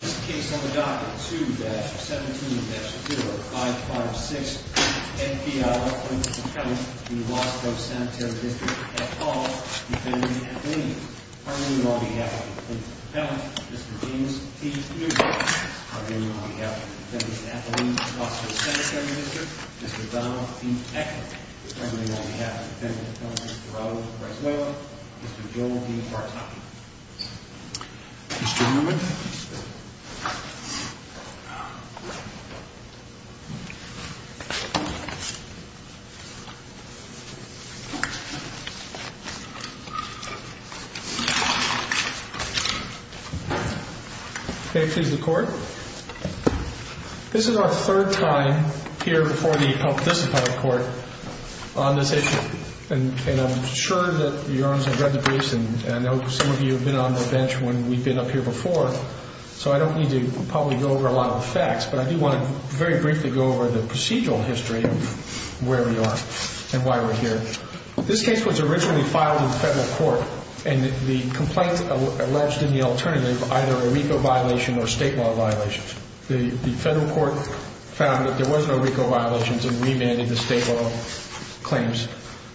This case on the docket, 2-17-0556, Fiala v. Wasco Sanitary District at Hall, Defendant Athelene. Argument on behalf of the defendant's appellant, Mr. James P. Newman. Argument on behalf of the defendant's appellant, Wasco Sanitary District, Mr. Donald P. Eckert. Argument on behalf of the defendant's appellant, Mr. Robert Braswell, Mr. Joel B. Bartoki. Mr. Newman. Can I please have the court? This is our third time here before the unparticipated court on this issue. And I'm sure that your honors have read the briefs and I know some of you have been on the bench when we've been up here before. So I don't need to probably go over a lot of the facts, but I do want to very briefly go over the procedural history of where we are and why we're here. This case was originally filed in federal court and the complaint alleged in the alternative either a RICO violation or state law violations. The federal court found that there was no RICO violations and remanded the state law claims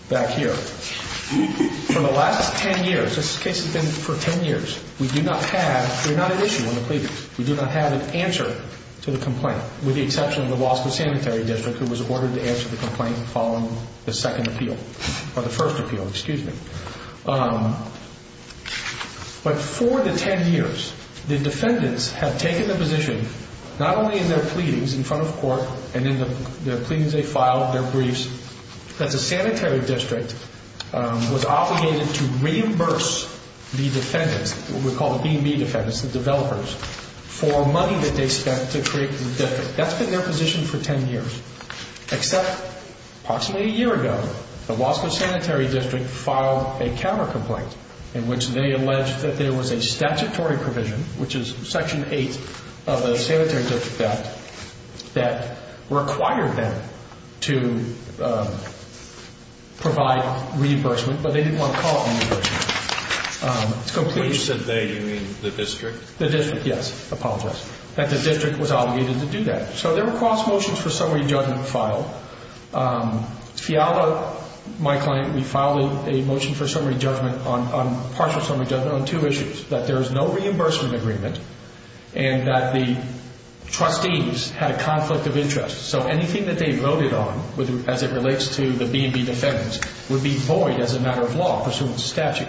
back here. For the last 10 years, this case has been for 10 years, we do not have, we're not at issue on the plea. We do not have an answer to the complaint with the exception of the Wasco Sanitary District who was ordered to answer the complaint following the second appeal. Or the first appeal, excuse me. But for the 10 years, the defendants have taken the position, not only in their pleadings in front of court and in the pleadings they filed, their briefs, that the Sanitary District was obligated to reimburse the defendants, what we call the B&B defendants, the developers, for money that they spent to create the district. That's been their position for 10 years. Except approximately a year ago, the Wasco Sanitary District filed a counter complaint in which they alleged that there was a statutory provision, which is section 8 of the Sanitary District Act, that required them to provide reimbursement, but they didn't want to call it reimbursement. When you said they, you mean the district? The district, yes. Apologize. That the district was obligated to do that. So there were cross motions for summary judgment filed. Fiala, my client, we filed a motion for summary judgment on, partial summary judgment on two issues. That there is no reimbursement agreement and that the trustees had a conflict of interest. So anything that they voted on, as it relates to the B&B defendants, would be void as a matter of law pursuant to statute.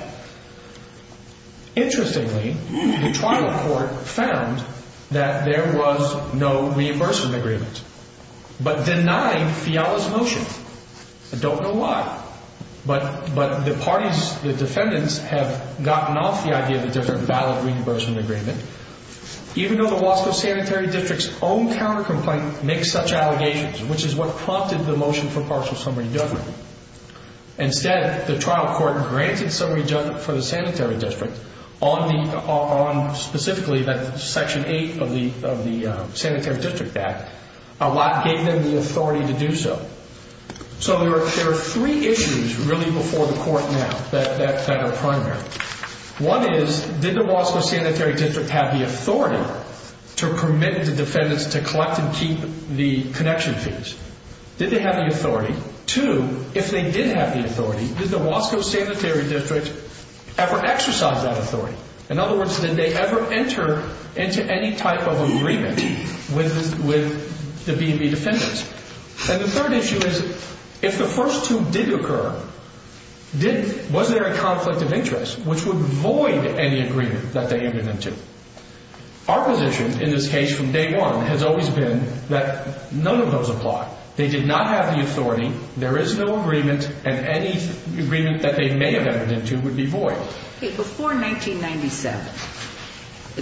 Interestingly, the trial court found that there was no reimbursement agreement, but denied Fiala's motion. I don't know why, but the parties, the defendants have gotten off the idea that there's a valid reimbursement agreement. Even though the Wasco Sanitary District's own counter-complaint makes such allegations, which is what prompted the motion for partial summary judgment. Instead, the trial court granted summary judgment for the sanitary district on specifically that section 8 of the Sanitary District Act. A lot gave them the authority to do so. So there are three issues really before the court now that are primary. One is, did the Wasco Sanitary District have the authority to permit the defendants to collect and keep the connection fees? Did they have the authority? Two, if they did have the authority, did the Wasco Sanitary District ever exercise that authority? In other words, did they ever enter into any type of agreement with the B&B defendants? And the third issue is, if the first two did occur, was there a conflict of interest, which would void any agreement that they entered into? Our position in this case from day one has always been that none of those apply. They did not have the authority, there is no agreement, and any agreement that they may have entered into would be void. Before 1997,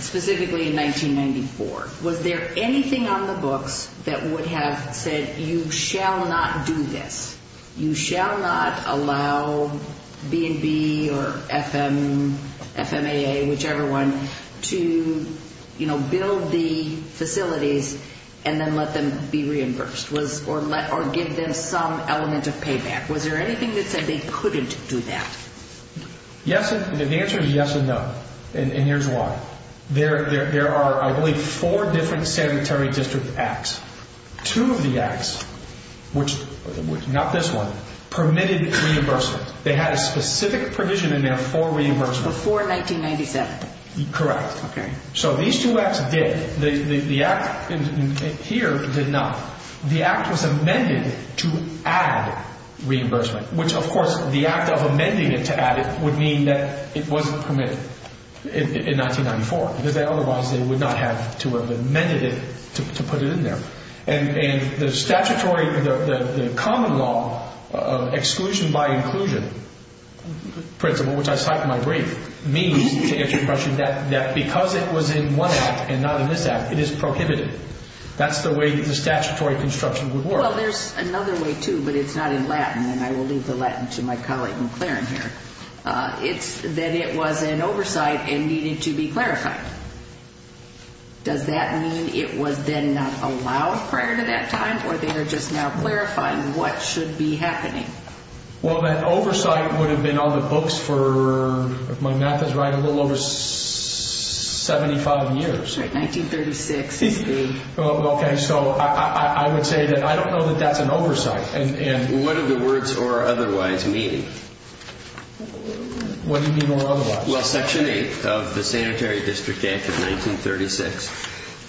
specifically in 1994, was there anything on the books that would have said you shall not do this? You shall not allow B&B or FMAA, whichever one, to build the facilities and then let them be reimbursed or give them some element of payback? Was there anything that said they couldn't do that? The answer is yes and no, and here's why. There are, I believe, four different sanitary district acts. Two of the acts, not this one, permitted reimbursement. They had a specific provision in there for reimbursement. Before 1997? Correct. Okay. So these two acts did. The act here did not. The act was amended to add reimbursement, which, of course, the act of amending it to add it would mean that it wasn't permitted in 1994, because otherwise they would not have to have amended it to put it in there. And the statutory, the common law exclusion by inclusion principle, which I cite in my brief, means, to answer your question, that because it was in one act and not in this act, it is prohibited. That's the way the statutory construction would work. Well, there's another way, too, but it's not in Latin, and I will leave the Latin to my colleague McLaren here. It's that it was an oversight and needed to be clarified. Does that mean it was then not allowed prior to that time, or they are just now clarifying what should be happening? Well, that oversight would have been on the books for, if my math is right, a little over 75 years. Well, okay, so I would say that I don't know that that's an oversight. What do the words or otherwise mean? What do you mean or otherwise? Well, Section 8 of the Sanitary District Act of 1936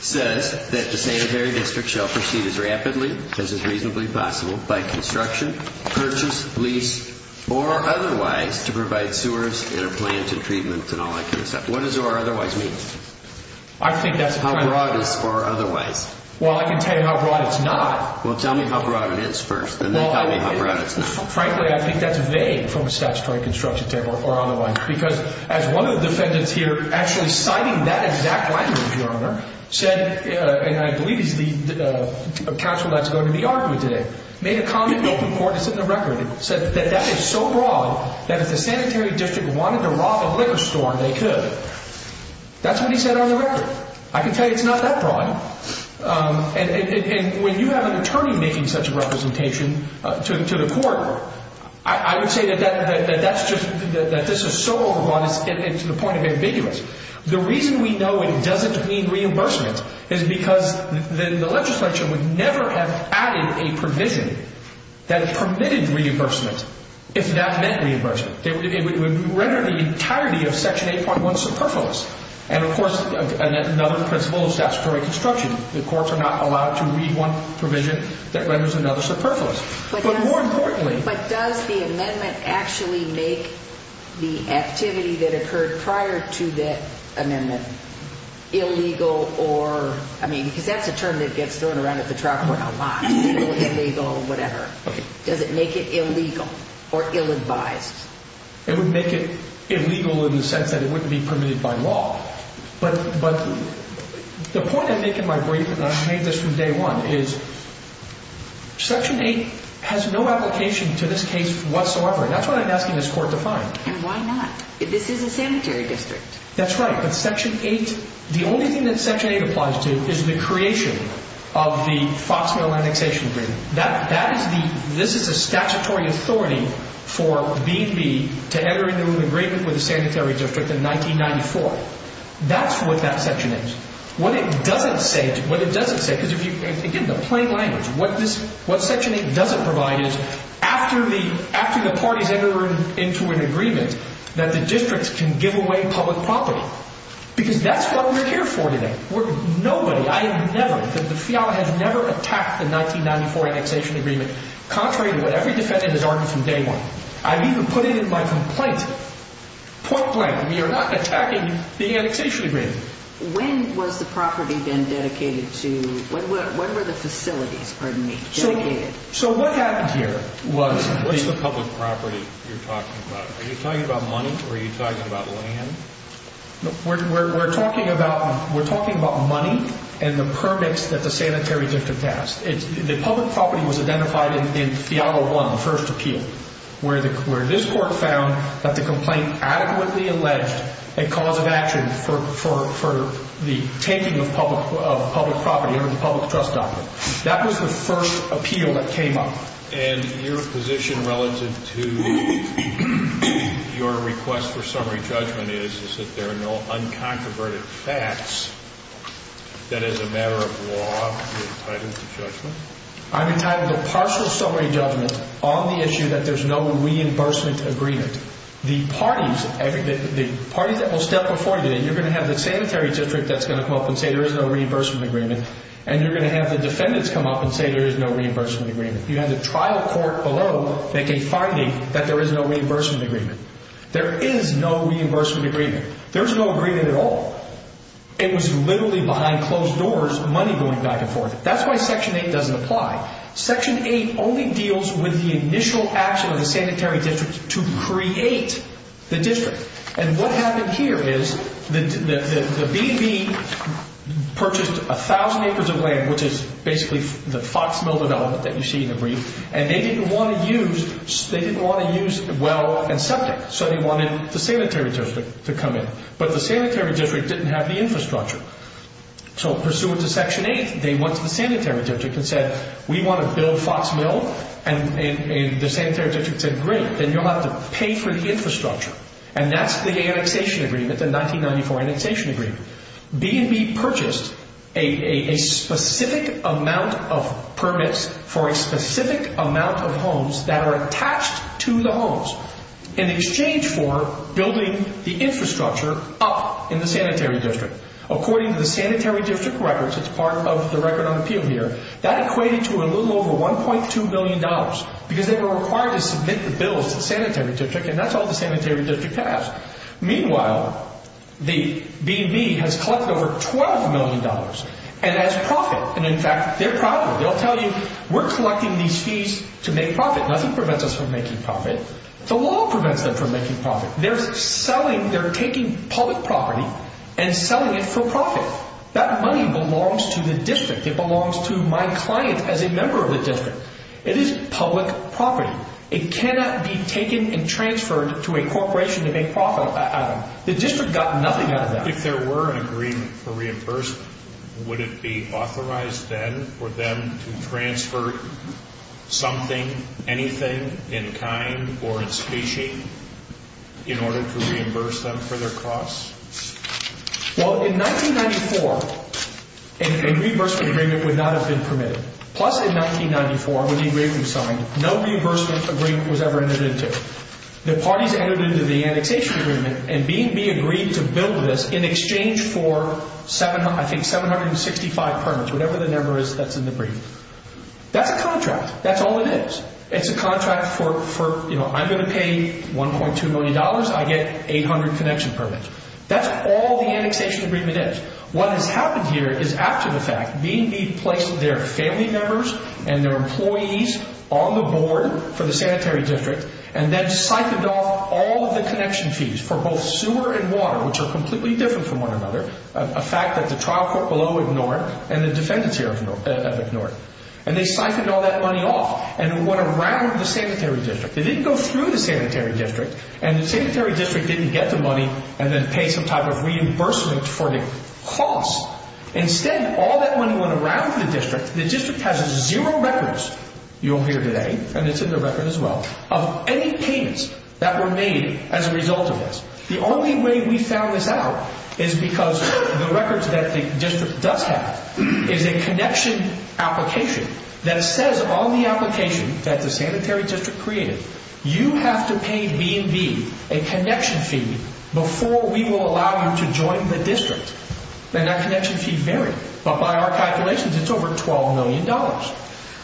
says that the sanitary district shall proceed as rapidly as is reasonably possible by construction, purchase, lease, or otherwise to provide sewers and a plant and treatment and all that kind of stuff. What does or otherwise mean? How broad is or otherwise? Well, I can tell you how broad it's not. Well, tell me how broad it is first, and then tell me how broad it's not. Frankly, I think that's vague from a statutory construction term or otherwise, because as one of the defendants here actually citing that exact language, Your Honor, said, and I believe he's the counsel that's going to be arguing today, made a comment in open court that's in the record and said that that is so broad that if the sanitary district wanted to rob a liquor store, they could. That's what he said on the record. I can tell you it's not that broad. And when you have an attorney making such a representation to the court, I would say that that's just, that this is so overbroad and to the point of ambiguous. The reason we know it doesn't mean reimbursement is because the legislature would never have added a provision that permitted reimbursement if that meant reimbursement. It would render the entirety of Section 8.1 superfluous. And, of course, another principle of statutory construction, the courts are not allowed to read one provision that renders another superfluous. But more importantly— But does the amendment actually make the activity that occurred prior to that amendment illegal or— I mean, because that's a term that gets thrown around at the trial court a lot, illegal, whatever. Does it make it illegal or ill-advised? It would make it illegal in the sense that it wouldn't be permitted by law. But the point I make in my brief, and I've made this from day one, is Section 8 has no application to this case whatsoever. And that's what I'm asking this court to find. And why not? This is a sanitary district. That's right. But Section 8, the only thing that Section 8 applies to is the creation of the FOXMail annexation agreement. That is the—this is the statutory authority for B&B to enter into an agreement with a sanitary district in 1994. That's what that section is. What it doesn't say—what it doesn't say, because if you— Again, the plain language. What this—what Section 8 doesn't provide is, after the parties enter into an agreement, that the districts can give away public property. Because that's what we're here for today. We're—nobody—I have never—the FIA has never attacked the 1994 annexation agreement, contrary to what every defendant has argued from day one. I've even put it in my complaint. Point blank. We are not attacking the annexation agreement. When was the property been dedicated to—what were the facilities, pardon me, dedicated? So what happened here was— What's the public property you're talking about? Are you talking about money or are you talking about land? We're talking about—we're talking about money and the permits that the sanitary district has. The public property was identified in FIA 1, the first appeal, where this court found that the complaint adequately alleged a cause of action for the taking of public property under the Public Trust Doctrine. That was the first appeal that came up. And your position relative to your request for summary judgment is, is that there are no unconconverted facts that, as a matter of law, you're entitled to judgment? I'm entitled to partial summary judgment on the issue that there's no reimbursement agreement. The parties—the parties that will step before you today, you're going to have the sanitary district that's going to come up and say there is no reimbursement agreement, and you're going to have the defendants come up and say there is no reimbursement agreement. You're going to have the trial court below making a finding that there is no reimbursement agreement. There is no reimbursement agreement. There's no agreement at all. It was literally behind closed doors, money going back and forth. That's why Section 8 doesn't apply. Section 8 only deals with the initial action of the sanitary district to create the district. And what happened here is the B&B purchased 1,000 acres of land, which is basically the Fox Mill development that you see in the brief, and they didn't want to use—they didn't want to use well and septic, so they wanted the sanitary district to come in. But the sanitary district didn't have the infrastructure. So pursuant to Section 8, they went to the sanitary district and said, we want to build Fox Mill, and the sanitary district said, great, then you'll have to pay for the infrastructure. And that's the annexation agreement, the 1994 annexation agreement. B&B purchased a specific amount of permits for a specific amount of homes that are attached to the homes in exchange for building the infrastructure up in the sanitary district. According to the sanitary district records, it's part of the record on appeal here, that equated to a little over $1.2 million because they were required to submit the bills to the sanitary district, and that's all the sanitary district has. Meanwhile, the B&B has collected over $12 million and has profit. And in fact, they're proud of it. They'll tell you, we're collecting these fees to make profit. Nothing prevents us from making profit. The law prevents them from making profit. They're selling—they're taking public property and selling it for profit. That money belongs to the district. It belongs to my client as a member of the district. It is public property. It cannot be taken and transferred to a corporation to make profit out of. The district got nothing out of that. If there were an agreement for reimbursement, would it be authorized then for them to transfer something, anything in kind or in specie in order to reimburse them for their costs? Well, in 1994, a reimbursement agreement would not have been permitted. Plus, in 1994, when the agreement was signed, no reimbursement agreement was ever entered into. The parties entered into the annexation agreement, and B&B agreed to build this in exchange for, I think, 765 permits, whatever the number is that's in the brief. That's a contract. That's all it is. It's a contract for, you know, I'm going to pay $1.2 million. I get 800 connection permits. That's all the annexation agreement is. What has happened here is after the fact, B&B placed their family members and their employees on the board for the sanitary district and then siphoned off all of the connection fees for both sewer and water, which are completely different from one another, a fact that the trial court below ignored and the defendants here have ignored. And they siphoned all that money off and it went around the sanitary district. It didn't go through the sanitary district, and the sanitary district didn't get the money and then pay some type of reimbursement for the cost. Instead, all that money went around the district. The district has zero records, you'll hear today, and it's in the record as well, of any payments that were made as a result of this. The only way we found this out is because the records that the district does have is a connection application that says on the application that the sanitary district created, you have to pay B&B a connection fee before we will allow you to join the district. And that connection fee varied. But by our calculations, it's over $12 million. All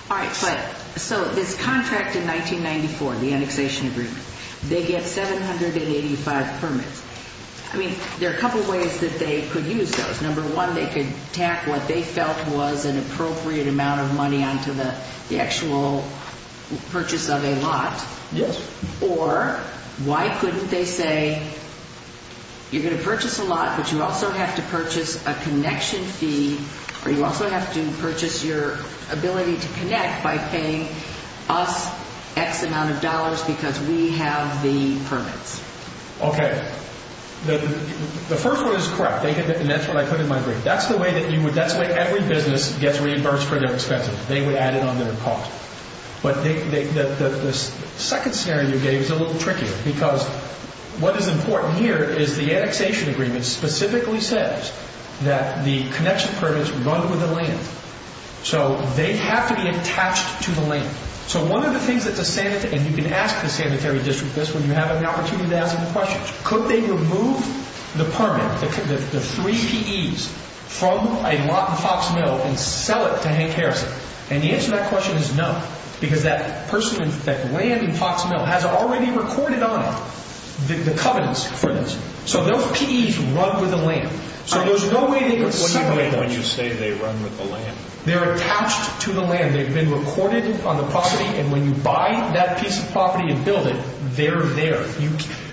right, but so this contract in 1994, the annexation agreement, they get 785 permits. I mean, there are a couple of ways that they could use those. Number one, they could tack what they felt was an appropriate amount of money onto the actual purchase of a lot. Yes. Or why couldn't they say you're going to purchase a lot, but you also have to purchase a connection fee, or you also have to purchase your ability to connect by paying us X amount of dollars because we have the permits. Okay, the first one is correct, and that's what I put in my brief. That's the way every business gets reimbursed for their expenses. They would add it on their cost. But the second scenario you gave is a little trickier because what is important here is the annexation agreement specifically says that the connection permits run with the land. So they have to be attached to the land. So one of the things that the sanitary, and you can ask the sanitary district this when you have an opportunity to ask them questions. Could they remove the permit, the three PEs from a lot in Fox Mill and sell it to Hank Harrison? And the answer to that question is no because that land in Fox Mill has already recorded on it the covenants for this. So those PEs run with the land. So there's no way they could sell it. What do you mean when you say they run with the land? They're attached to the land. They've been recorded on the property, and when you buy that piece of property and build it, they're there.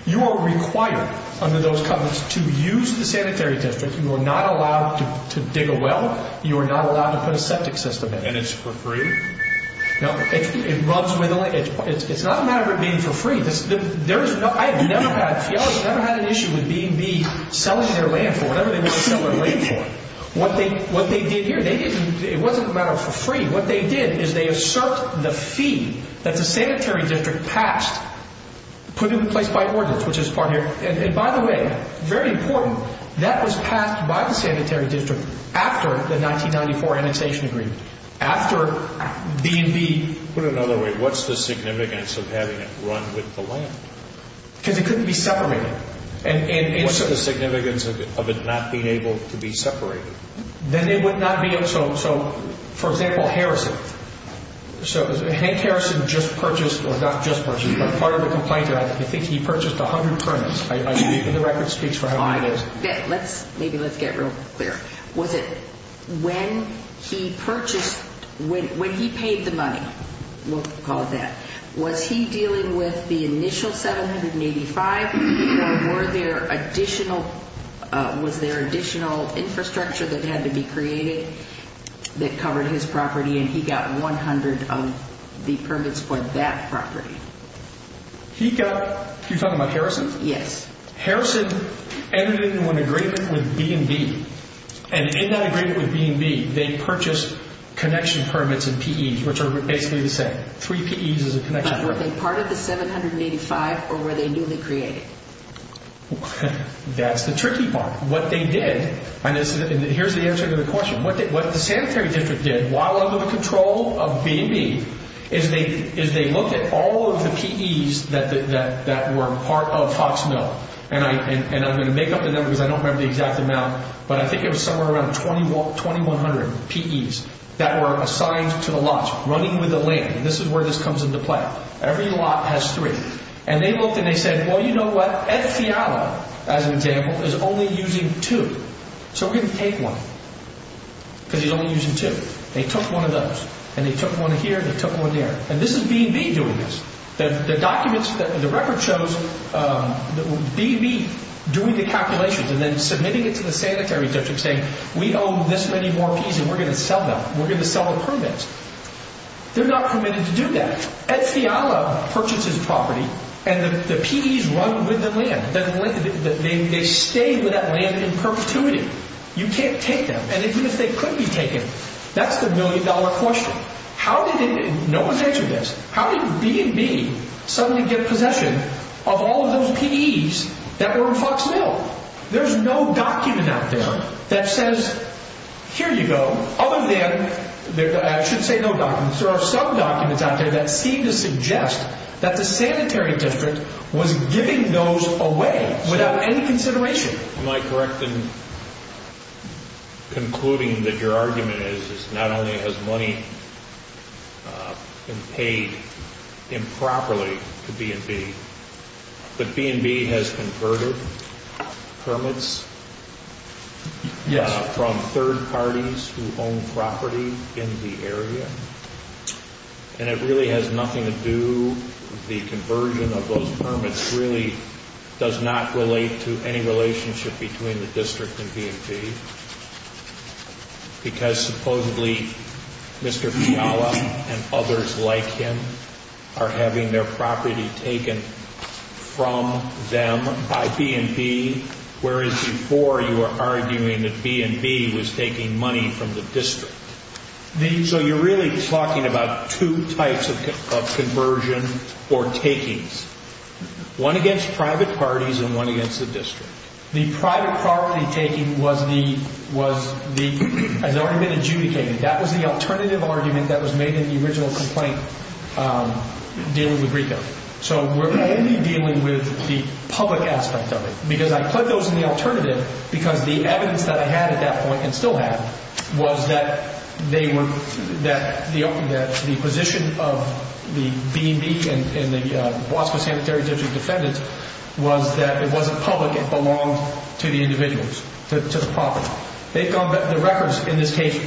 You are required under those covenants to use the sanitary district. You are not allowed to dig a well. You are not allowed to put a septic system in it. And it's for free? No. It's not a matter of it being for free. I have never had an issue with B&B selling their land for whatever they want to sell their land for. What they did here, it wasn't a matter of for free. What they did is they assert the fee that the sanitary district passed, put in place by ordinance, which is this part here. And by the way, very important, that was passed by the sanitary district after the 1994 annexation agreement, after B&B. Put it another way, what's the significance of having it run with the land? Because it couldn't be separated. What's the significance of it not being able to be separated? Then they would not be able to. So, for example, Harrison. Hank Harrison just purchased, or not just purchased, but part of the complaint, I think he purchased 100 permits. The record speaks for how many it is. Maybe let's get real clear. Was it when he purchased, when he paid the money, we'll call it that, was he dealing with the initial 785 or were there additional, was there additional infrastructure that had to be created that covered his property and he got 100 of the permits for that property? He got, you're talking about Harrison? Yes. Harrison ended in an agreement with B&B. And in that agreement with B&B, they purchased connection permits and PEs, which are basically the same. Three PEs is a connection permit. Were they part of the 785 or were they newly created? That's the tricky part. What they did, and here's the answer to the question, what the sanitary district did while under the control of B&B is they looked at all of the PEs that were part of Hawks Mill. And I'm going to make up the number because I don't remember the exact amount, but I think it was somewhere around 2,100 PEs that were assigned to the lot, running with the land. This is where this comes into play. Every lot has three. And they looked and they said, well, you know what? Ed Fiala, as an example, is only using two. So we're going to take one because he's only using two. They took one of those. And they took one here and they took one there. And this is B&B doing this. The documents, the record shows B&B doing the calculations and then submitting it to the sanitary district saying, we owe this many more PEs and we're going to sell them. We're going to sell the permits. They're not permitted to do that. Ed Fiala purchases property and the PEs run with the land. They stay with that land in perpetuity. You can't take them. And even if they could be taken, that's the million-dollar question. How did it, and no one's answered this, how did B&B suddenly get possession of all of those PEs that were in Hawks Mill? There's no document out there that says, here you go, other than, I should say no documents, there are some documents out there that seem to suggest that the sanitary district was giving those away without any consideration. Am I correct in concluding that your argument is, is not only has money been paid improperly to B&B, but B&B has converted permits from third parties who own property in the area, and it really has nothing to do with the conversion of those permits, really does not relate to any relationship between the district and B&B, because supposedly Mr. Fiala and others like him are having their property taken from them by B&B, whereas before you were arguing that B&B was taking money from the district. So you're really talking about two types of conversion or takings, one against private parties and one against the district. The private property taking was the, has already been adjudicated. That was the alternative argument that was made in the original complaint dealing with RICO. So we're only dealing with the public aspect of it, because I put those in the alternative because the evidence that I had at that point, and still have, was that they were, that the position of the B&B and the Bosco Sanitary District defendants was that it wasn't public, it belonged to the individuals, to the property. They've gone, the records in this case,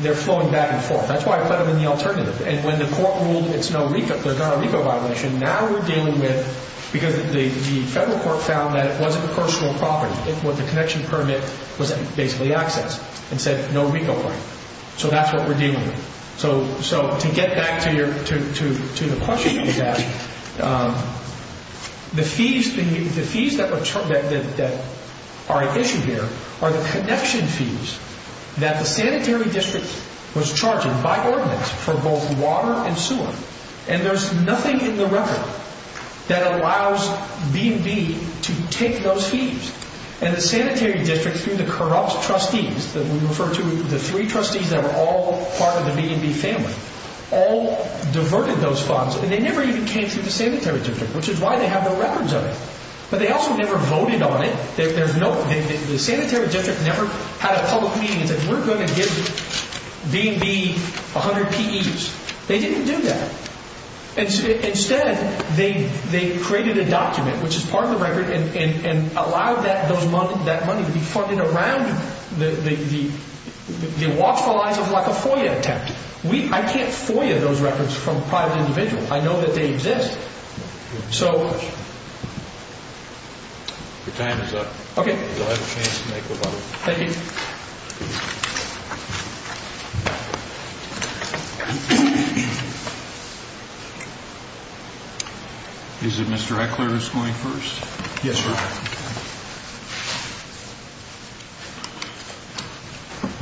they're flowing back and forth. That's why I put them in the alternative. And when the court ruled it's no RICO, there's not a RICO violation, now we're dealing with, because the federal court found that it wasn't a personal property, the connection permit was basically access, and said no RICO claim. So that's what we're dealing with. So to get back to the question you asked, the fees that are at issue here are the connection fees that the sanitary district was charging by ordinance for both water and sewer, and there's nothing in the record that allows B&B to take those fees. And the sanitary district, through the corrupt trustees, that we refer to the three trustees that are all part of the B&B family, all diverted those funds, and they never even came through the sanitary district, which is why they have no records of it. But they also never voted on it. The sanitary district never had a public meeting and said, we're going to give B&B 100 PEs. They didn't do that. Instead, they created a document, which is part of the record, and allowed that money to be funded around the watchful eyes of a FOIA attempt. I can't FOIA those records from a private individual. I know that they exist. So... Your time is up. Okay. You'll have a chance to make a vote. Thank you. Is it Mr. Eckler who's going first? Yes, sir.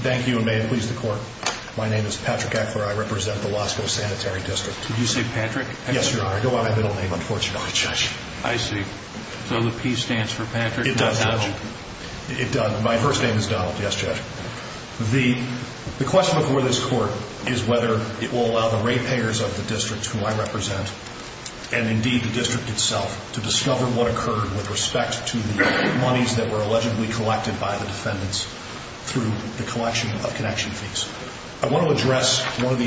Thank you, and may it please the Court. My name is Patrick Eckler. I represent the Wasco Sanitary District. Did you say Patrick? Yes, Your Honor. I go by my middle name, unfortunately, Judge. I see. So the P stands for Patrick, not Donald. It does, Judge. It does. My first name is Donald. Yes, Judge. The question before this Court is whether it will allow the rate payers of the district, who I represent, and indeed the district itself, to discover what occurred with respect to the monies that were allegedly collected by the defendants through the collection of connection fees. I want to address one of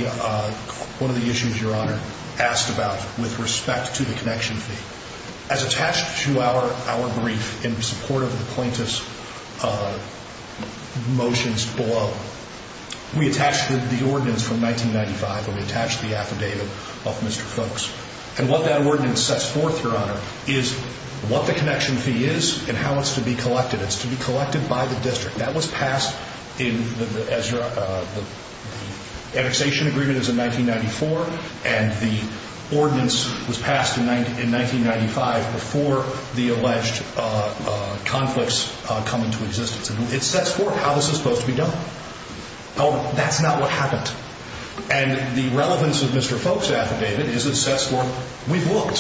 the issues Your Honor asked about with respect to the connection fee. As attached to our brief in support of the plaintiff's motions below, we attached the ordinance from 1995, where we attached the affidavit of Mr. Folks. And what that ordinance sets forth, Your Honor, is what the connection fee is and how it's to be collected. It's to be collected by the district. That was passed in the annexation agreements in 1994, and the ordinance was passed in 1995 before the alleged conflicts come into existence. And it sets forth how this is supposed to be done. Oh, that's not what happened. And the relevance of Mr. Folks' affidavit is it sets forth we've looked.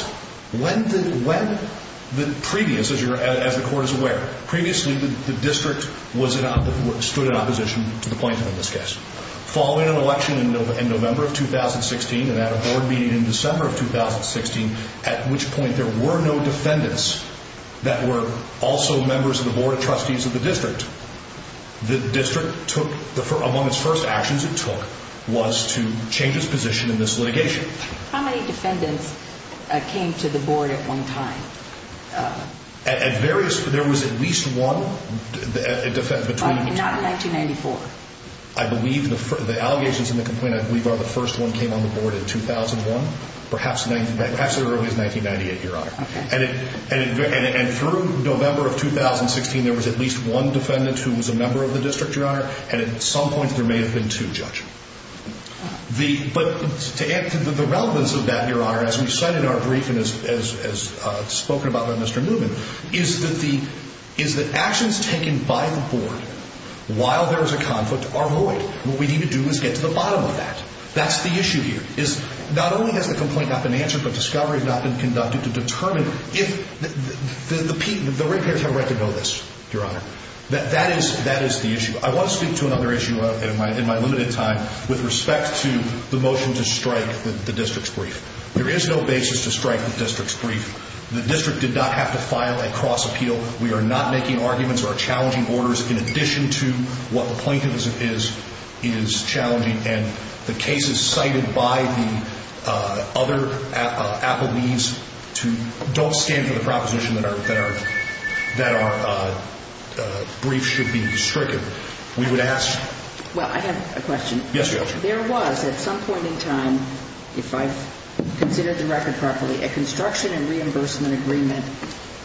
When the previous, as the court is aware, previously the district stood in opposition to the plaintiff in this case. Following an election in November of 2016 and at a board meeting in December of 2016, at which point there were no defendants that were also members of the board of trustees of the district, the district took, among its first actions it took, was to change its position in this litigation. How many defendants came to the board at one time? There was at least one. But not in 1994? I believe the allegations in the complaint, I believe, are the first one came on the board in 2001, perhaps as early as 1998, Your Honor. And through November of 2016, there was at least one defendant who was a member of the district, Your Honor, and at some point there may have been two, Judge. But to add to the relevance of that, Your Honor, as we cite in our brief and as spoken about by Mr. Newman, is that actions taken by the board while there is a conflict are void. What we need to do is get to the bottom of that. That's the issue here. Not only has the complaint not been answered, but discovery has not been conducted to determine if the repairs have a right to go this, Your Honor. That is the issue. I want to speak to another issue in my limited time with respect to the motion to strike the district's brief. There is no basis to strike the district's brief. The district did not have to file a cross-appeal. We are not making arguments or challenging orders in addition to what the plaintiff is challenging. And the cases cited by the other affidavits don't stand for the proposition that our brief should be stricken. We would ask... Well, I have a question. Yes, Judge. There was at some point in time, if I've considered the record properly, a construction and reimbursement agreement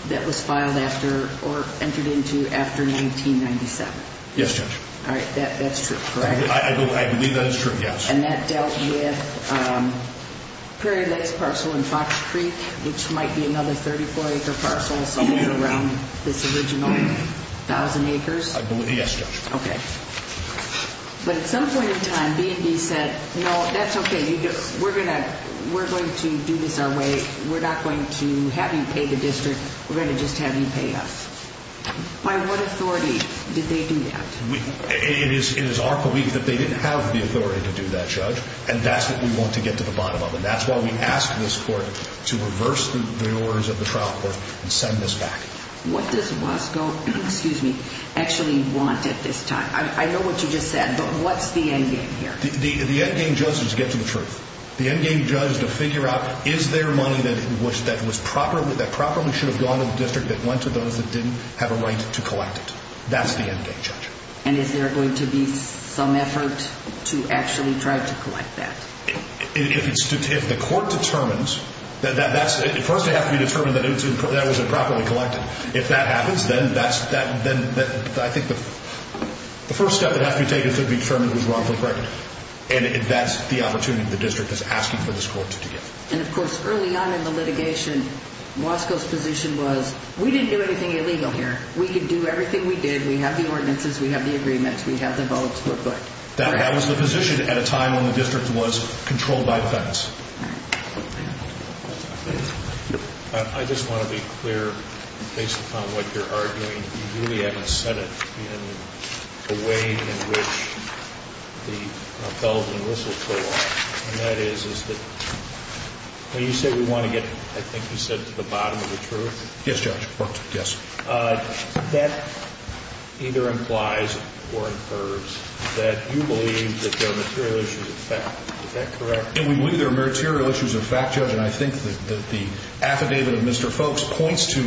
that was filed after or entered into after 1997. Yes, Judge. All right. That's true, correct? I believe that is true, yes. And that dealt with Prairie Lakes parcel in Fox Creek, which might be another 34-acre parcel somewhere around this original 1,000 acres? I believe, yes, Judge. Okay. But at some point in time, B&B said, no, that's okay. We're going to do this our way. We're not going to have you pay the district. We're going to just have you pay us. By what authority did they do that? It is our belief that they didn't have the authority to do that, Judge, and that's what we want to get to the bottom of, and that's why we asked this court to reverse the orders of the trial court and send this back. What does Wasco actually want at this time? I know what you just said, but what's the endgame here? The endgame, Judge, is to get to the truth. The endgame, Judge, is to figure out, is there money that properly should have gone to the district that went to those that didn't have a right to collect it? That's the endgame, Judge. And is there going to be some effort to actually try to collect that? If the court determines that that was improperly collected, if that happens, then I think the first step that has to be taken to determine who's wrongfully pregnant, and that's the opportunity the district is asking for this court to give. And, of course, early on in the litigation, Wasco's position was, we didn't do anything illegal here. We can do everything we did. We have the ordinances. We have the agreements. We have the votes. We're good. That was the position at a time when the district was controlled by the feds. I just want to be clear, based upon what you're arguing, you really haven't said it in the way in which the bells and whistles go off, and that is that when you say we want to get, I think you said, to the bottom of the truth. Yes, Judge. That either implies or incurs that you believe that there are material issues of fact. Is that correct? And we believe there are material issues of fact, Judge, and I think that the affidavit of Mr. Folks points to,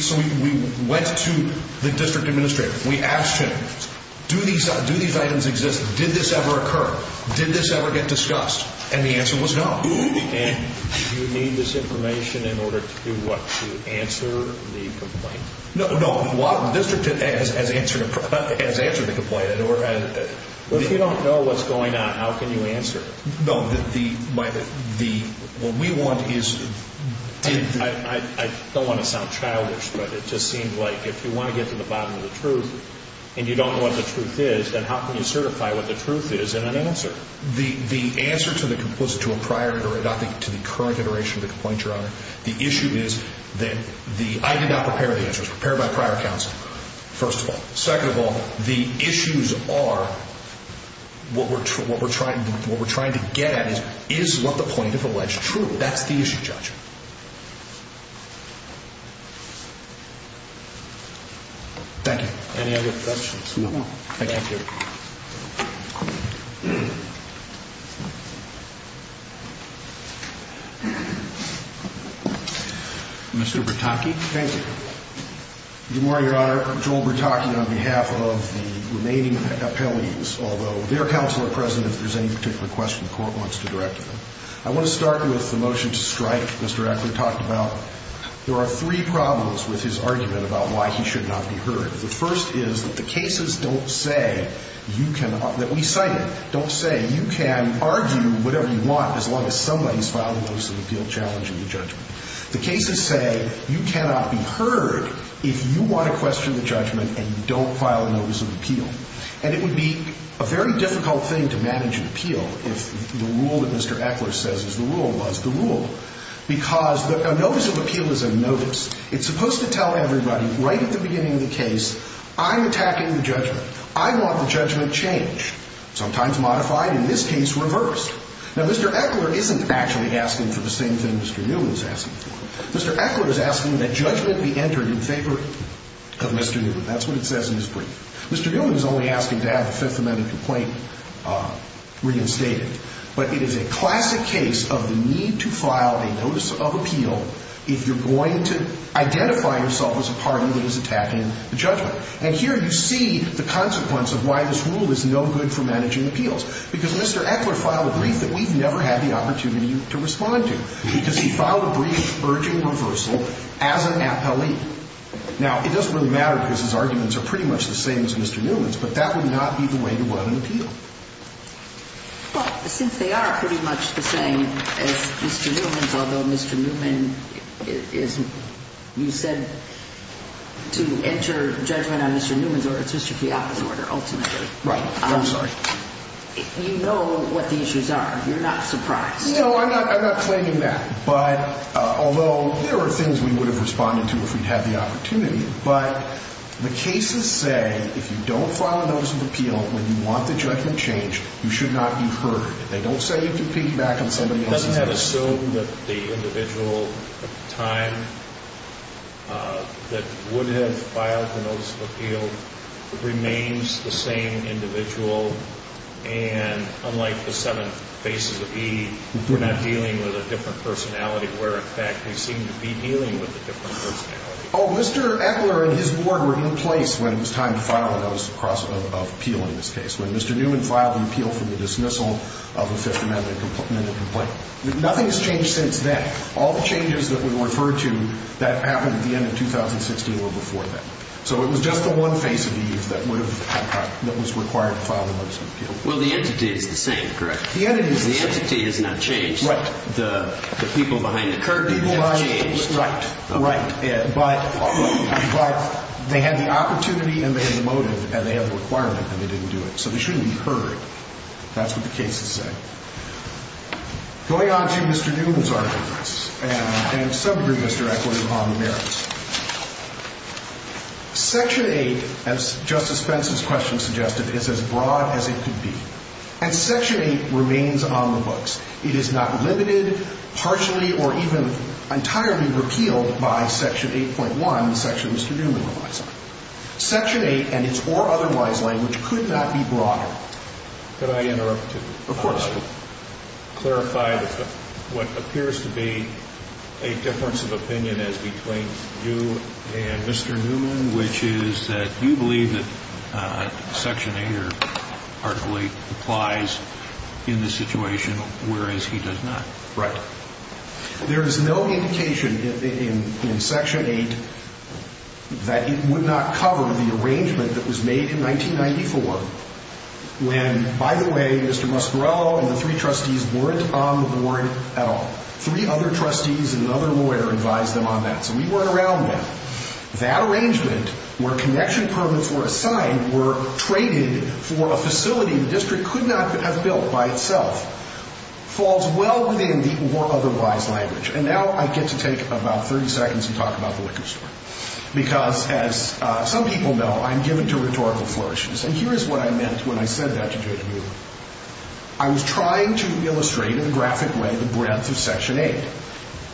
so we went to the district administrator. We asked him, do these items exist? Did this ever occur? Did this ever get discussed? And the answer was no. And do you need this information in order to, what, to answer the complaint? No. The district has answered the complaint. If you don't know what's going on, how can you answer it? No. What we want is did the ---- I don't want to sound childish, but it just seems like if you want to get to the bottom of the truth and you don't know what the truth is, then how can you certify what the truth is in an answer? Well, the answer to a prior iteration, not to the current iteration of the complaint, Your Honor, the issue is that I did not prepare the answers, prepared by prior counsel, first of all. Second of all, the issues are what we're trying to get at is, is what the plaintiff alleged true? That's the issue, Judge. Any other questions? No. Thank you. Mr. Bertocchi. Thank you. Good morning, Your Honor. Joel Bertocchi on behalf of the remaining appellees, although their counsel are present if there's any particular question the court wants to direct to them. I want to start with the motion to strike Mr. Eckler talked about. There are three problems with his argument about why he should not be heard. The first is that the cases don't say you cannot ---- that we cite it, don't say you cannot be heard. And you can argue whatever you want as long as somebody has filed a notice of appeal challenging the judgment. The cases say you cannot be heard if you want to question the judgment and don't file a notice of appeal. And it would be a very difficult thing to manage an appeal if the rule that Mr. Eckler says is the rule was the rule. Because a notice of appeal is a notice. It's supposed to tell everybody right at the beginning of the case, I'm attacking the judgment. I want the judgment changed. Sometimes modified, in this case reversed. Now, Mr. Eckler isn't actually asking for the same thing Mr. Newman is asking for. Mr. Eckler is asking that judgment be entered in favor of Mr. Newman. That's what it says in his brief. Mr. Newman is only asking to have the Fifth Amendment complaint reinstated. But it is a classic case of the need to file a notice of appeal if you're going to identify yourself as a party that is attacking the judgment. And here you see the consequence of why this rule is no good for managing appeals. Because Mr. Eckler filed a brief that we've never had the opportunity to respond to. Because he filed a brief urging reversal as an appellee. Now, it doesn't really matter because his arguments are pretty much the same as Mr. Newman's. But that would not be the way to run an appeal. Well, since they are pretty much the same as Mr. Newman's, although Mr. Newman is, you said, to enter judgment on Mr. Newman's or it's Mr. Fiat's order ultimately. Right. I'm sorry. You know what the issues are. You're not surprised. No, I'm not claiming that. But although there are things we would have responded to if we'd had the opportunity. But the cases say if you don't file a notice of appeal when you want the judgment changed, you should not be heard. They don't say you can piggyback on somebody else's case. Doesn't that assume that the individual at the time that would have filed the notice of appeal remains the same individual? And unlike the seven faces of E, we're not dealing with a different personality where in fact we seem to be dealing with a different personality. Oh, Mr. Eckler and his board were in place when it was time to file a notice of appeal in this case. When Mr. Newman filed an appeal for the dismissal of a Fifth Amendment complaint, nothing has changed since then. All the changes that we referred to that happened at the end of 2016 were before that. So it was just the one face of E that was required to file the notice of appeal. Well, the entity is the same, correct? The entity is the same. The entity has not changed. Right. The people behind the curtain have changed. Right. But they had the opportunity and they had the motive and they had the requirement and they didn't do it. So they shouldn't be heard. That's what the cases say. Going on to Mr. Newman's arguments, and some agree with Mr. Eckler on the merits. Section 8, as Justice Fentz's question suggested, is as broad as it could be. And Section 8 remains on the books. It is not limited, partially, or even entirely repealed by Section 8.1, the section Mr. Newman relies on. Section 8 and its or otherwise language could not be broader. Could I interrupt you? Of course. Could I clarify what appears to be a difference of opinion as between you and Mr. Newman, which is that you believe that Section 8 partially applies in this situation, whereas he does not. Right. There is no indication in Section 8 that it would not cover the arrangement that was made in 1994 when, by the way, Mr. Muscarello and the three trustees weren't on the board at all. Three other trustees and another lawyer advised them on that. So we weren't around then. That arrangement, where connection permits were assigned, were traded for a facility the district could not have built by itself, falls well within the or otherwise language. And now I get to take about 30 seconds and talk about the liquor store. Because, as some people know, I'm given to rhetorical flourishes. And here is what I meant when I said that to Judge Newman. I was trying to illustrate in a graphic way the breadth of Section 8.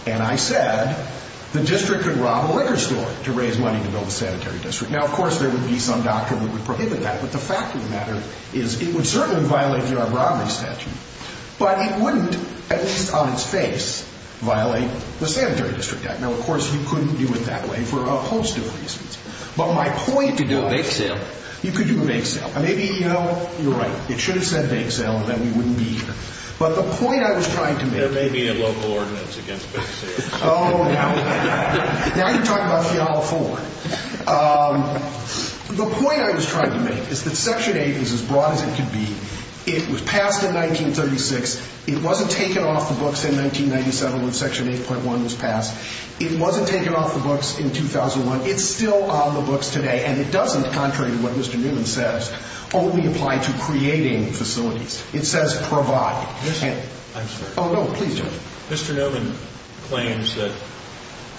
And I said the district could rob a liquor store to raise money to build a sanitary district. Now, of course, there would be some doctrine that would prohibit that. But the fact of the matter is it would certainly violate the armed robbery statute. But it wouldn't, at least on its face, violate the Sanitary District Act. Now, of course, you couldn't do it that way for a host of reasons. But my point was you could do a bank sale. Maybe, you know, you're right. It should have said bank sale and then we wouldn't be here. But the point I was trying to make. There may be a local ordinance against bank sales. Oh, now you're talking about Fiala 4. The point I was trying to make is that Section 8 is as broad as it could be. It was passed in 1936. It wasn't taken off the books in 1997 when Section 8.1 was passed. It wasn't taken off the books in 2001. It's still on the books today. And it doesn't, contrary to what Mr. Newman says, only apply to creating facilities. It says provide. Yes, sir. I'm sorry. Oh, no, please. Mr. Newman claims that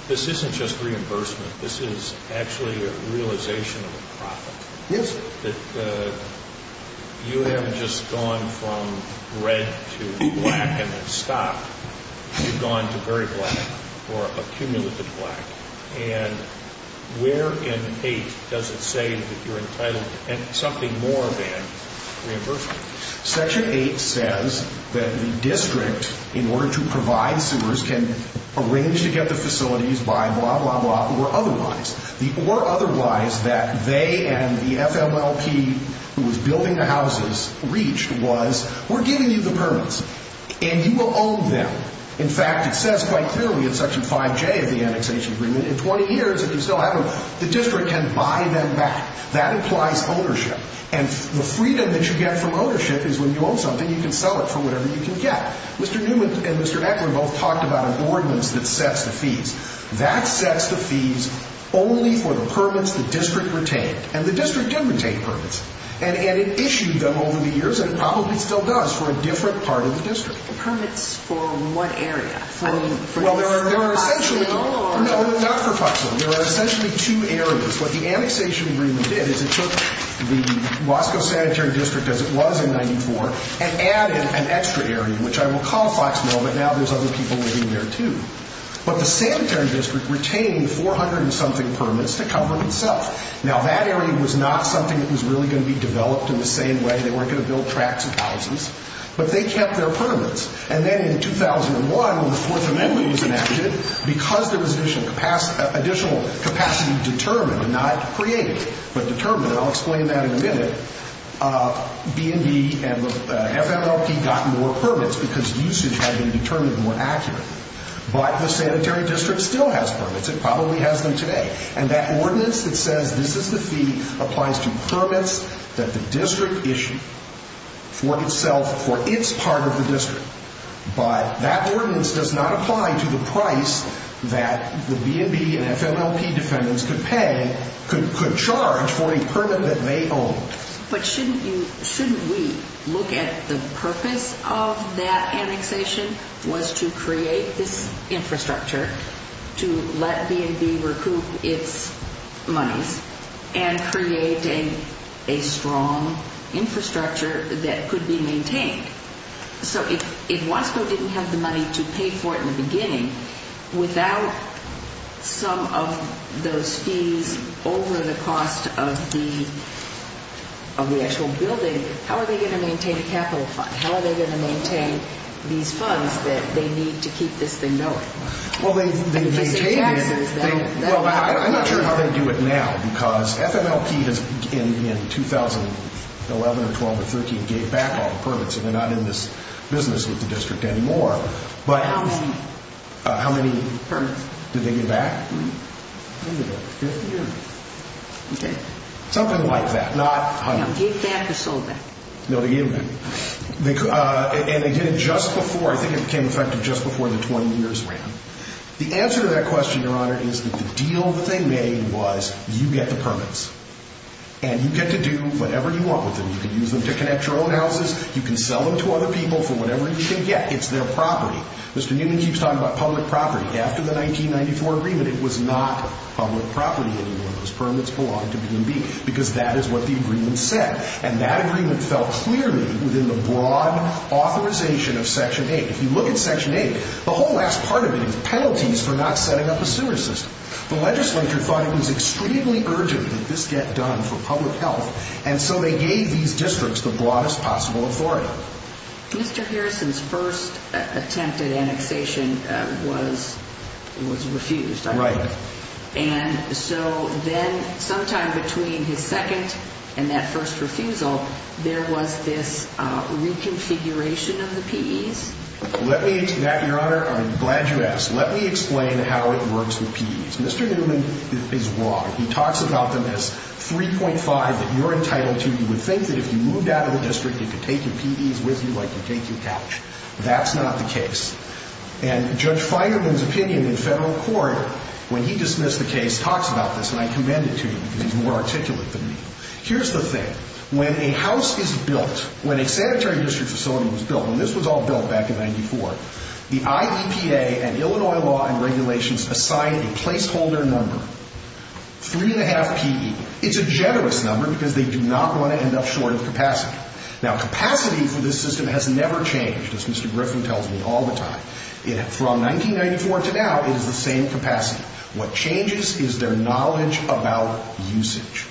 this isn't just reimbursement. This is actually a realization of a profit. Yes, sir. That you haven't just gone from red to black and then stopped. You've gone to very black or a cumulative black. And where in 8 does it say that you're entitled to something more than reimbursement? Section 8 says that the district, in order to provide sewers, can arrange to get the facilities by blah, blah, blah, or otherwise. The or otherwise that they and the FMLP, who was building the houses, reached was we're giving you the permits and you will own them. In fact, it says quite clearly in Section 5J of the annexation agreement, in 20 years, if you still have them, the district can buy them back. That implies ownership. And the freedom that you get from ownership is when you own something, you can sell it for whatever you can get. Mr. Newman and Mr. Ecklund both talked about an ordinance that sets the fees. That sets the fees only for the permits the district retained. And the district didn't retain permits. And it issued them over the years, and it probably still does, for a different part of the district. Permits for what area? Well, there are essentially. For Foxville? No, not for Foxville. There are essentially two areas. What the annexation agreement did is it took the Wasco Sanitary District, as it was in 94, and added an extra area, which I will call Foxville, but now there's other people living there too. But the sanitary district retained 400-and-something permits to cover itself. Now, that area was not something that was really going to be developed in the same way. They weren't going to build tracts of houses. But they kept their permits. And then in 2001, when the Fourth Amendment was enacted, because there was additional capacity determined, not created, but determined, and I'll explain that in a minute, B&B and the FMLP got more permits because usage had been determined more accurately. But the sanitary district still has permits. It probably has them today. And that ordinance that says this is the fee applies to permits that the district issued for itself, for its part of the district. But that ordinance does not apply to the price that the B&B and FMLP defendants could pay, could charge, for a permit that they own. But shouldn't we look at the purpose of that annexation was to create this infrastructure to let B&B recoup its monies and create a strong infrastructure that could be maintained? So if Wasco didn't have the money to pay for it in the beginning, without some of those fees over the cost of the actual building, how are they going to maintain a capital fund? How are they going to maintain these funds that they need to keep this thing going? I'm not sure how they do it now, because FMLP in 2011 or 12 or 13 gave back all the permits, and they're not in this business with the district anymore. How many? How many permits did they give back? Something like that. Gave back or sold back? No, they gave them back. And they did it just before. I think it became effective just before the 20 years ran. The answer to that question, Your Honor, is that the deal that they made was you get the permits, and you get to do whatever you want with them. You can use them to connect your own houses. You can sell them to other people for whatever you can get. It's their property. Mr. Newman keeps talking about public property. After the 1994 agreement, it was not public property anymore. Those permits belonged to B&B, because that is what the agreement said. And that agreement fell clearly within the broad authorization of Section 8. If you look at Section 8, the whole last part of it is penalties for not setting up a sewer system. The legislature thought it was extremely urgent that this get done for public health, and so they gave these districts the broadest possible authority. Mr. Harrison's first attempt at annexation was refused, I think. Right. And so then sometime between his second and that first refusal, there was this reconfiguration of the PEs. Let me, to that, Your Honor, I'm glad you asked. Let me explain how it works with PEs. Mr. Newman is wrong. He talks about them as 3.5 that you're entitled to. You would think that if you moved out of the district, you could take your PEs with you like you take your couch. That's not the case. And Judge Feigerman's opinion in federal court, when he dismissed the case, talks about this, and I commend it to you because he's more articulate than me. Here's the thing. When a house is built, when a sanitary district facility was built, and this was all built back in 94, the IEPA and Illinois law and regulations assign a placeholder number, 3.5 PE. It's a generous number because they do not want to end up short of capacity. Now, capacity for this system has never changed, as Mr. Griffin tells me all the time. From 1994 to now, it is the same capacity. What changes is their knowledge about usage.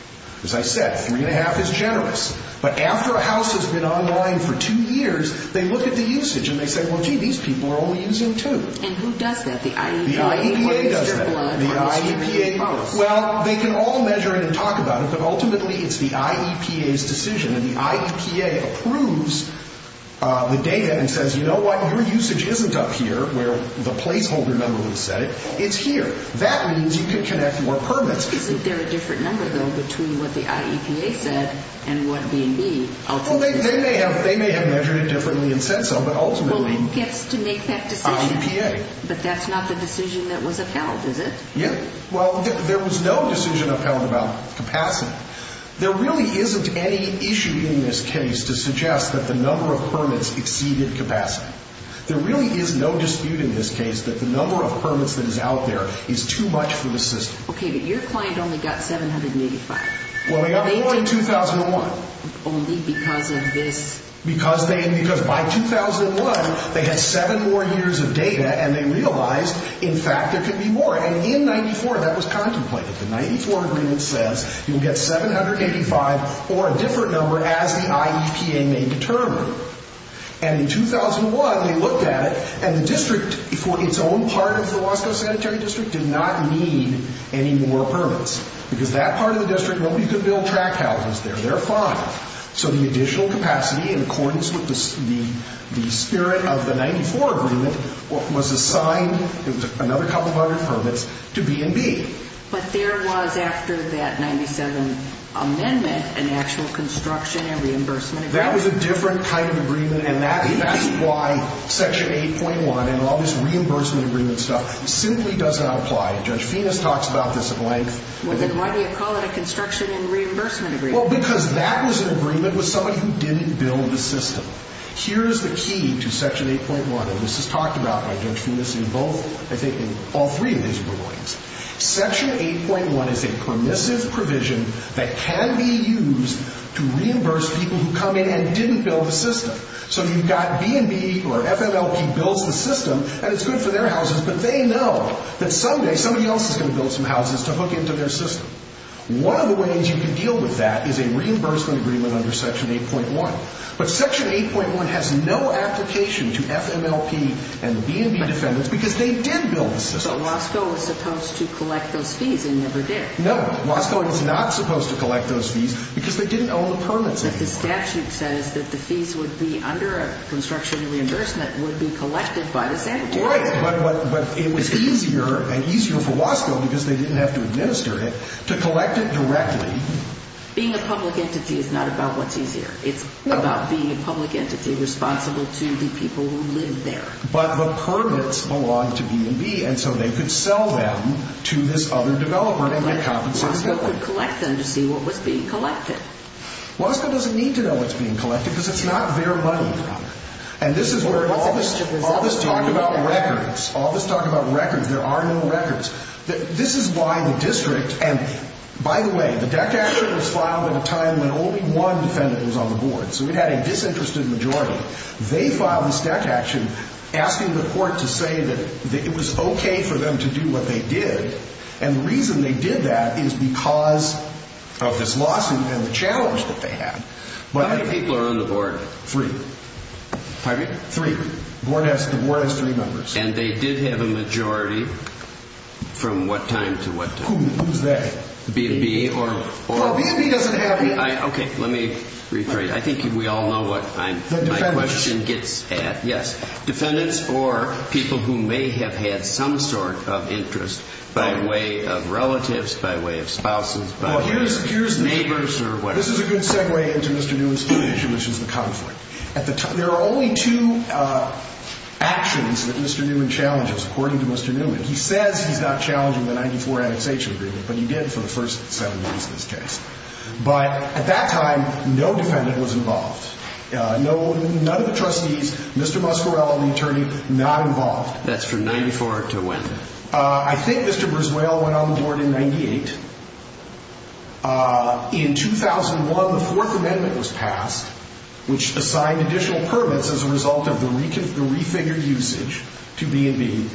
As I said, 3.5 is generous. But after a house has been online for two years, they look at the usage and they say, well, gee, these people are only using two. And who does that? The IEPA. The IEPA does that. The IEPA. Well, they can all measure it and talk about it, but ultimately it's the IEPA's decision. And the IEPA approves the data and says, you know what? Your usage isn't up here where the placeholder number would set it. It's here. That means you can connect more permits. Isn't there a different number, though, between what the IEPA said and what B&B ultimately said? Well, they may have measured it differently and said so, but ultimately the IEPA. Well, who gets to make that decision? But that's not the decision that was upheld, is it? Yeah. Well, there was no decision upheld about capacity. There really isn't any issue in this case to suggest that the number of permits exceeded capacity. There really is no dispute in this case that the number of permits that is out there is too much for the system. Okay, but your client only got 785. Well, they got more in 2001. Only because of this. Because by 2001, they had seven more years of data and they realized, in fact, there could be more. And in 94, that was contemplated. The 94 agreement says you'll get 785 or a different number as the IEPA may determine. And in 2001, they looked at it, and the district, for its own part of the Wasco Sanitary District, did not need any more permits. Because that part of the district, nobody could build track houses there. There are five. So the additional capacity, in accordance with the spirit of the 94 agreement, was assigned another couple hundred permits to B&B. But there was, after that 97 amendment, an actual construction and reimbursement agreement. That was a different kind of agreement. And that is why Section 8.1 and all this reimbursement agreement stuff simply does not apply. Judge Finas talks about this at length. Well, then why do you call it a construction and reimbursement agreement? Well, because that was an agreement with somebody who didn't build a system. Here is the key to Section 8.1, and this is talked about by Judge Finas in both, I think, in all three of his rulings. Section 8.1 is a permissive provision that can be used to reimburse people who come in and didn't build a system. So you've got B&B or FMLP builds the system, and it's good for their houses, but they know that someday somebody else is going to build some houses to hook into their system. One of the ways you can deal with that is a reimbursement agreement under Section 8.1. But Section 8.1 has no application to FMLP and B&B defendants because they did build the system. But Wasco was supposed to collect those fees and never did. No. Wasco was not supposed to collect those fees because they didn't own the permits anymore. But the statute says that the fees would be under a construction reimbursement would be collected by the same entity. Right. But it was easier, and easier for Wasco because they didn't have to administer it, to collect it directly. Being a public entity is not about what's easier. It's about being a public entity responsible to the people who live there. But the permits belong to B&B, and so they could sell them to this other developer and get compensated. But Wasco could collect them to see what was being collected. Wasco doesn't need to know what's being collected because it's not their money. And this is where all this talk about records, all this talk about records, there are no records. This is why the district, and by the way, the DEC action was filed at a time when only one defendant was on the board. So we had a disinterested majority. They filed this DEC action asking the court to say that it was okay for them to do what they did. And the reason they did that is because of this lawsuit and the challenge that they had. How many people are on the board? Three. Pardon me? Three. The board has three members. And they did have a majority from what time to what time? Who? Who's they? B&B or? No, B&B doesn't have B&B. Okay. Let me rephrase. I think we all know what my question gets at. Yes. Defendants or people who may have had some sort of interest by way of relatives, by way of spouses, by way of neighbors or whatever. This is a good segue into Mr. Newish's issue, which is the conflict. There are only two actions that Mr. Newman challenges, according to Mr. Newman. He says he's not challenging the 94 annexation agreement, but he did for the first seven years in this case. But at that time, no defendant was involved. None of the trustees, Mr. Muscarello, the attorney, not involved. That's from 94 to when? I think Mr. Briswell went on the board in 98. In 2001, the Fourth Amendment was passed, which assigned additional permits as a result of the refigured usage to B&B.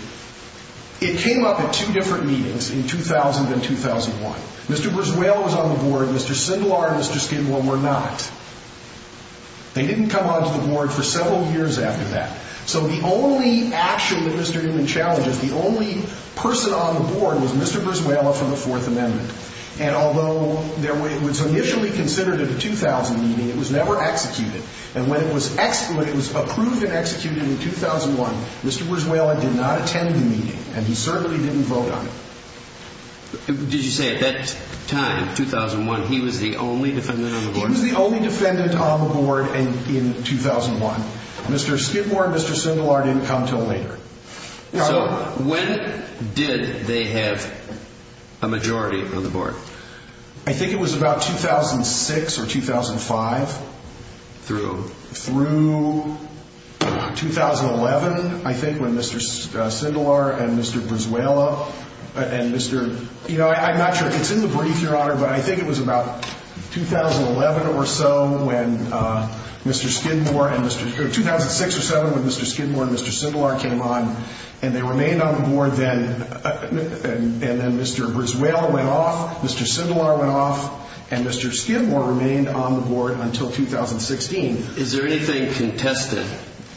It came up at two different meetings in 2000 and 2001. Mr. Briswell was on the board. Mr. Sindelar and Mr. Skidmore were not. They didn't come onto the board for several years after that. So the only action that Mr. Newman challenges, the only person on the board was Mr. Briswell from the Fourth Amendment. And although it was initially considered a 2000 meeting, it was never executed. And when it was approved and executed in 2001, Mr. Briswell did not attend the meeting, and he certainly didn't vote on it. Did you say at that time, 2001, he was the only defendant on the board? He was the only defendant on the board in 2001. Mr. Skidmore and Mr. Sindelar didn't come until later. So when did they have a majority on the board? I think it was about 2006 or 2005. Through? Through 2011, I think, when Mr. Sindelar and Mr. Briswell and Mr. You know, I'm not sure if it's in the brief, Your Honor, but I think it was about 2011 or so when Mr. Skidmore and Mr. 2006 or 2007 when Mr. Skidmore and Mr. Sindelar came on, and they remained on the board. And then Mr. Briswell went off, Mr. Sindelar went off, and Mr. Skidmore remained on the board until 2016. Is there anything contested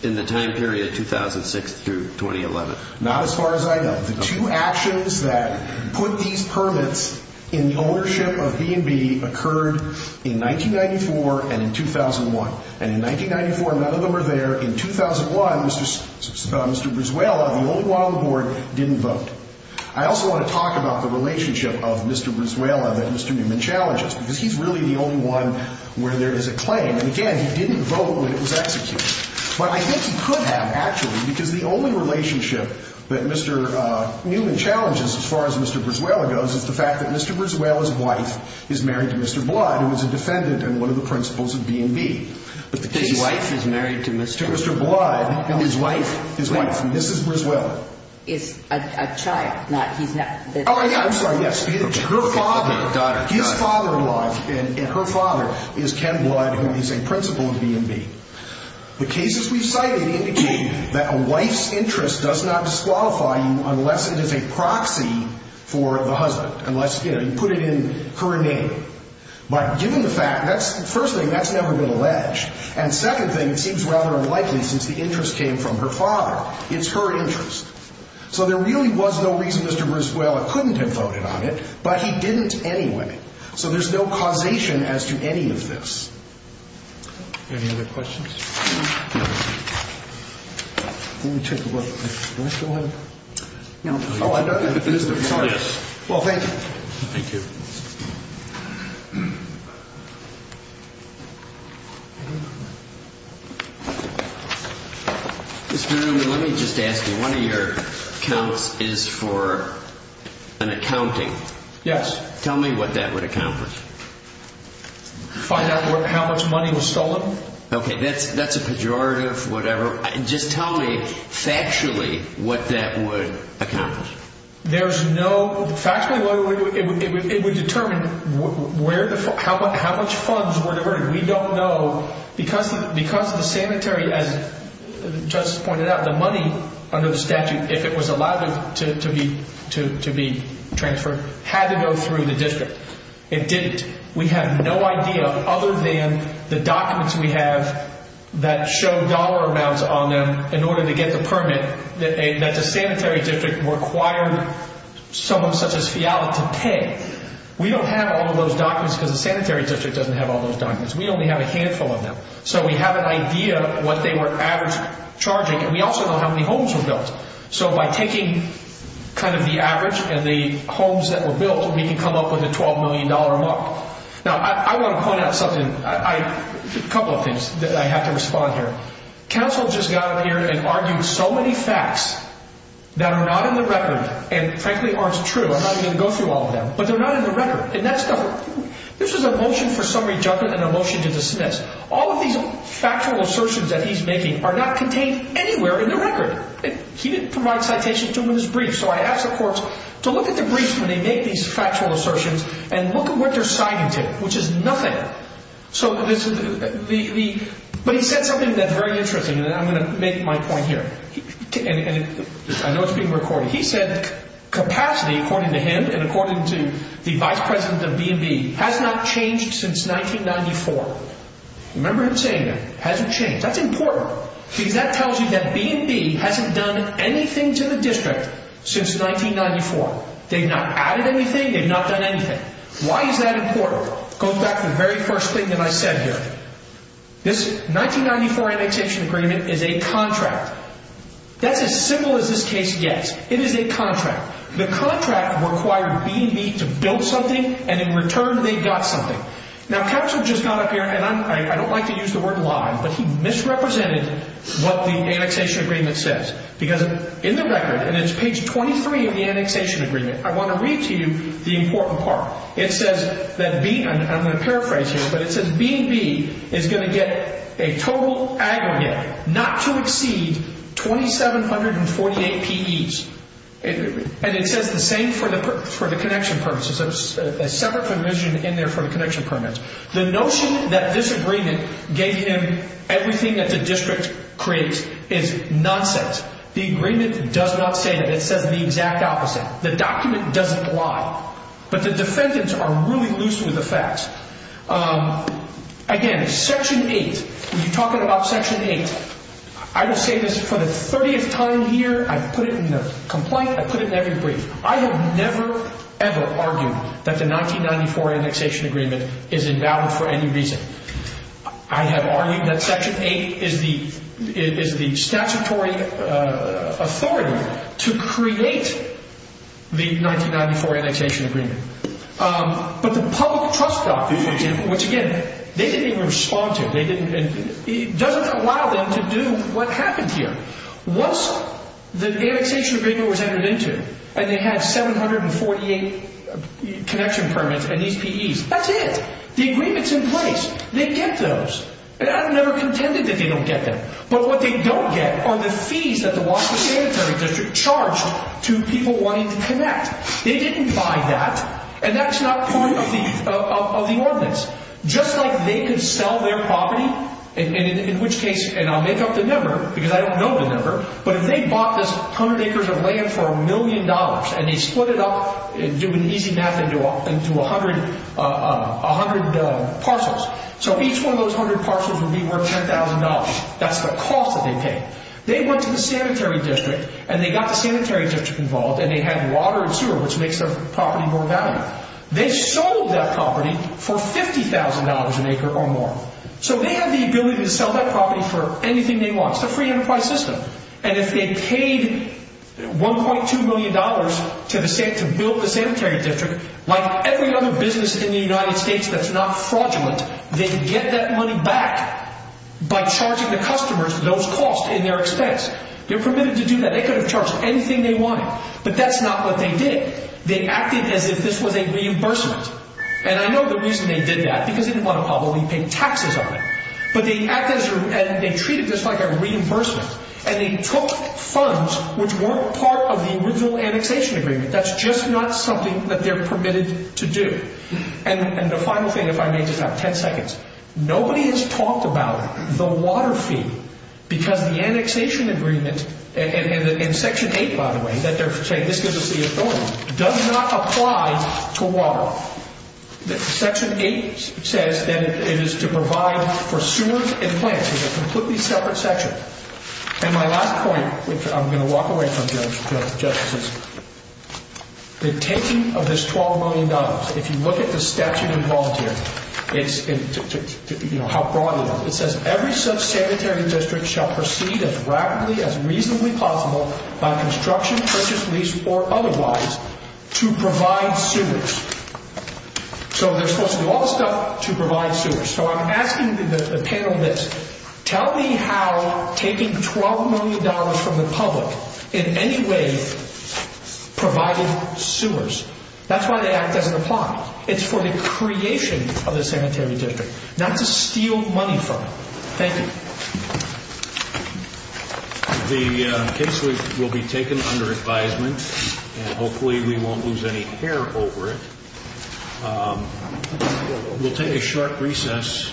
in the time period 2006 through 2011? Not as far as I know. The two actions that put these permits in the ownership of B&B occurred in 1994 and in 2001. And in 1994, none of them are there. In 2001, Mr. Briswell, the only one on the board, didn't vote. I also want to talk about the relationship of Mr. Briswell that Mr. Newman challenges, because he's really the only one where there is a claim. And, again, he didn't vote when it was executed. But I think he could have, actually, because the only relationship that Mr. Newman challenges, as far as Mr. Briswell goes, is the fact that Mr. His wife is married to Mr. To Mr. Blood. His wife. His wife. And this is Briswell. Is a child. Not, he's not. Oh, yeah. I'm sorry. Yes. Her father. His father alive. And her father is Ken Blood, who is a principal of B&B. The cases we've cited indicate that a wife's interest does not disqualify you unless it is a proxy for the husband. Unless, you know, you put it in her name. But given the fact, first thing, that's never been alleged. And second thing, it seems rather unlikely since the interest came from her father. It's her interest. So there really was no reason Mr. Briswell couldn't have voted on it, but he didn't anyway. So there's no causation as to any of this. Any other questions? Let me take a look. Do I still have? No. Oh, I don't. Sorry. Well, thank you. Thank you. Thank you. Mr. Newman, let me just ask you. One of your accounts is for an accounting. Yes. Tell me what that would accomplish. Find out how much money was stolen. Okay. That's a pejorative, whatever. Just tell me factually what that would accomplish. Factually, it would determine how much funds were diverted. We don't know because the sanitary, as the judge pointed out, the money under the statute, if it was allowed to be transferred, had to go through the district. It didn't. We have no idea other than the documents we have that show dollar amounts on them in order to get the permit that the sanitary district required someone such as Fiala to pay. We don't have all of those documents because the sanitary district doesn't have all those documents. We only have a handful of them. So we have an idea of what they were average charging, and we also know how many homes were built. So by taking kind of the average and the homes that were built, we can come up with a $12 million mark. Now, I want to point out something, a couple of things that I have to respond here. Counsel just got up here and argued so many facts that are not in the record and, frankly, aren't true. I'm not even going to go through all of them, but they're not in the record. And this is a motion for summary judgment and a motion to dismiss. All of these factual assertions that he's making are not contained anywhere in the record. He didn't provide citations to them in his brief, so I asked the courts to look at the briefs when they make these factual assertions and look at what they're citing to, which is nothing. But he said something that's very interesting, and I'm going to make my point here. I know it's being recorded. He said capacity, according to him and according to the vice president of B&B, has not changed since 1994. Remember him saying that. Hasn't changed. That's important because that tells you that B&B hasn't done anything to the district since 1994. They've not added anything. They've not done anything. Why is that important? Go back to the very first thing that I said here. This 1994 annexation agreement is a contract. That's as simple as this case gets. It is a contract. The contract required B&B to build something, and in return they got something. Now, capsule just got up here, and I don't like to use the word lie, but he misrepresented what the annexation agreement says. Because in the record, and it's page 23 of the annexation agreement, I want to read to you the important part. It says that B, and I'm going to paraphrase here, but it says B&B is going to get a total aggregate not to exceed 2,748 PEs. And it says the same for the connection permits. It's separate from the vision in there for the connection permits. The notion that this agreement gave him everything that the district creates is nonsense. The agreement does not say that. It says the exact opposite. The document doesn't lie. But the defendants are really loose with the facts. Again, section 8, when you're talking about section 8, I will say this for the 30th time here. I put it in the complaint. I put it in every brief. I have never, ever argued that the 1994 annexation agreement is invalid for any reason. I have argued that section 8 is the statutory authority to create the 1994 annexation agreement. But the public trust document, which, again, they didn't even respond to. It doesn't allow them to do what happened here. Once the annexation agreement was entered into and they had 748 connection permits and these PEs, that's it. The agreement's in place. They get those. And I've never contended that they don't get them. But what they don't get are the fees that the Washington Sanitary District charged to people wanting to connect. They didn't buy that. And that's not part of the ordinance. Just like they could sell their property, in which case, and I'll make up the number because I don't know the number, but if they bought this hundred acres of land for a million dollars and they split it up, do an easy math, into a hundred parcels. So each one of those hundred parcels would be worth $10,000. That's the cost that they paid. They went to the Sanitary District and they got the Sanitary District involved and they had water and sewer, which makes the property more valuable. They sold that property for $50,000 an acre or more. So they have the ability to sell that property for anything they want. It's a free enterprise system. And if they paid $1.2 million to build the Sanitary District, like every other business in the United States that's not fraudulent, they could get that money back by charging the customers those costs in their expense. They're permitted to do that. They could have charged anything they wanted. But that's not what they did. They acted as if this was a reimbursement. And I know the reason they did that, because they didn't want to probably pay taxes on it. But they acted as if they treated this like a reimbursement. And they took funds which weren't part of the original annexation agreement. That's just not something that they're permitted to do. And the final thing, if I may just have 10 seconds. Nobody has talked about the water fee because the annexation agreement, and Section 8, by the way, that they're saying this gives us the authority, does not apply to water. Section 8 says that it is to provide for sewers and plants. It's a completely separate section. And my last point, which I'm going to walk away from, Justice, is the intention of this $12 million, if you look at the statute involved here, how broad it is, it says, Every such sanitary district shall proceed as rapidly as reasonably possible by construction, purchase, lease, or otherwise to provide sewers. So they're supposed to do all this stuff to provide sewers. So I'm asking the panel this. Tell me how taking $12 million from the public in any way provided sewers. That's why the act doesn't apply. It's for the creation of the sanitary district, not to steal money from it. Thank you. The case will be taken under advisement, and hopefully we won't lose any hair over it. We'll take a short recess.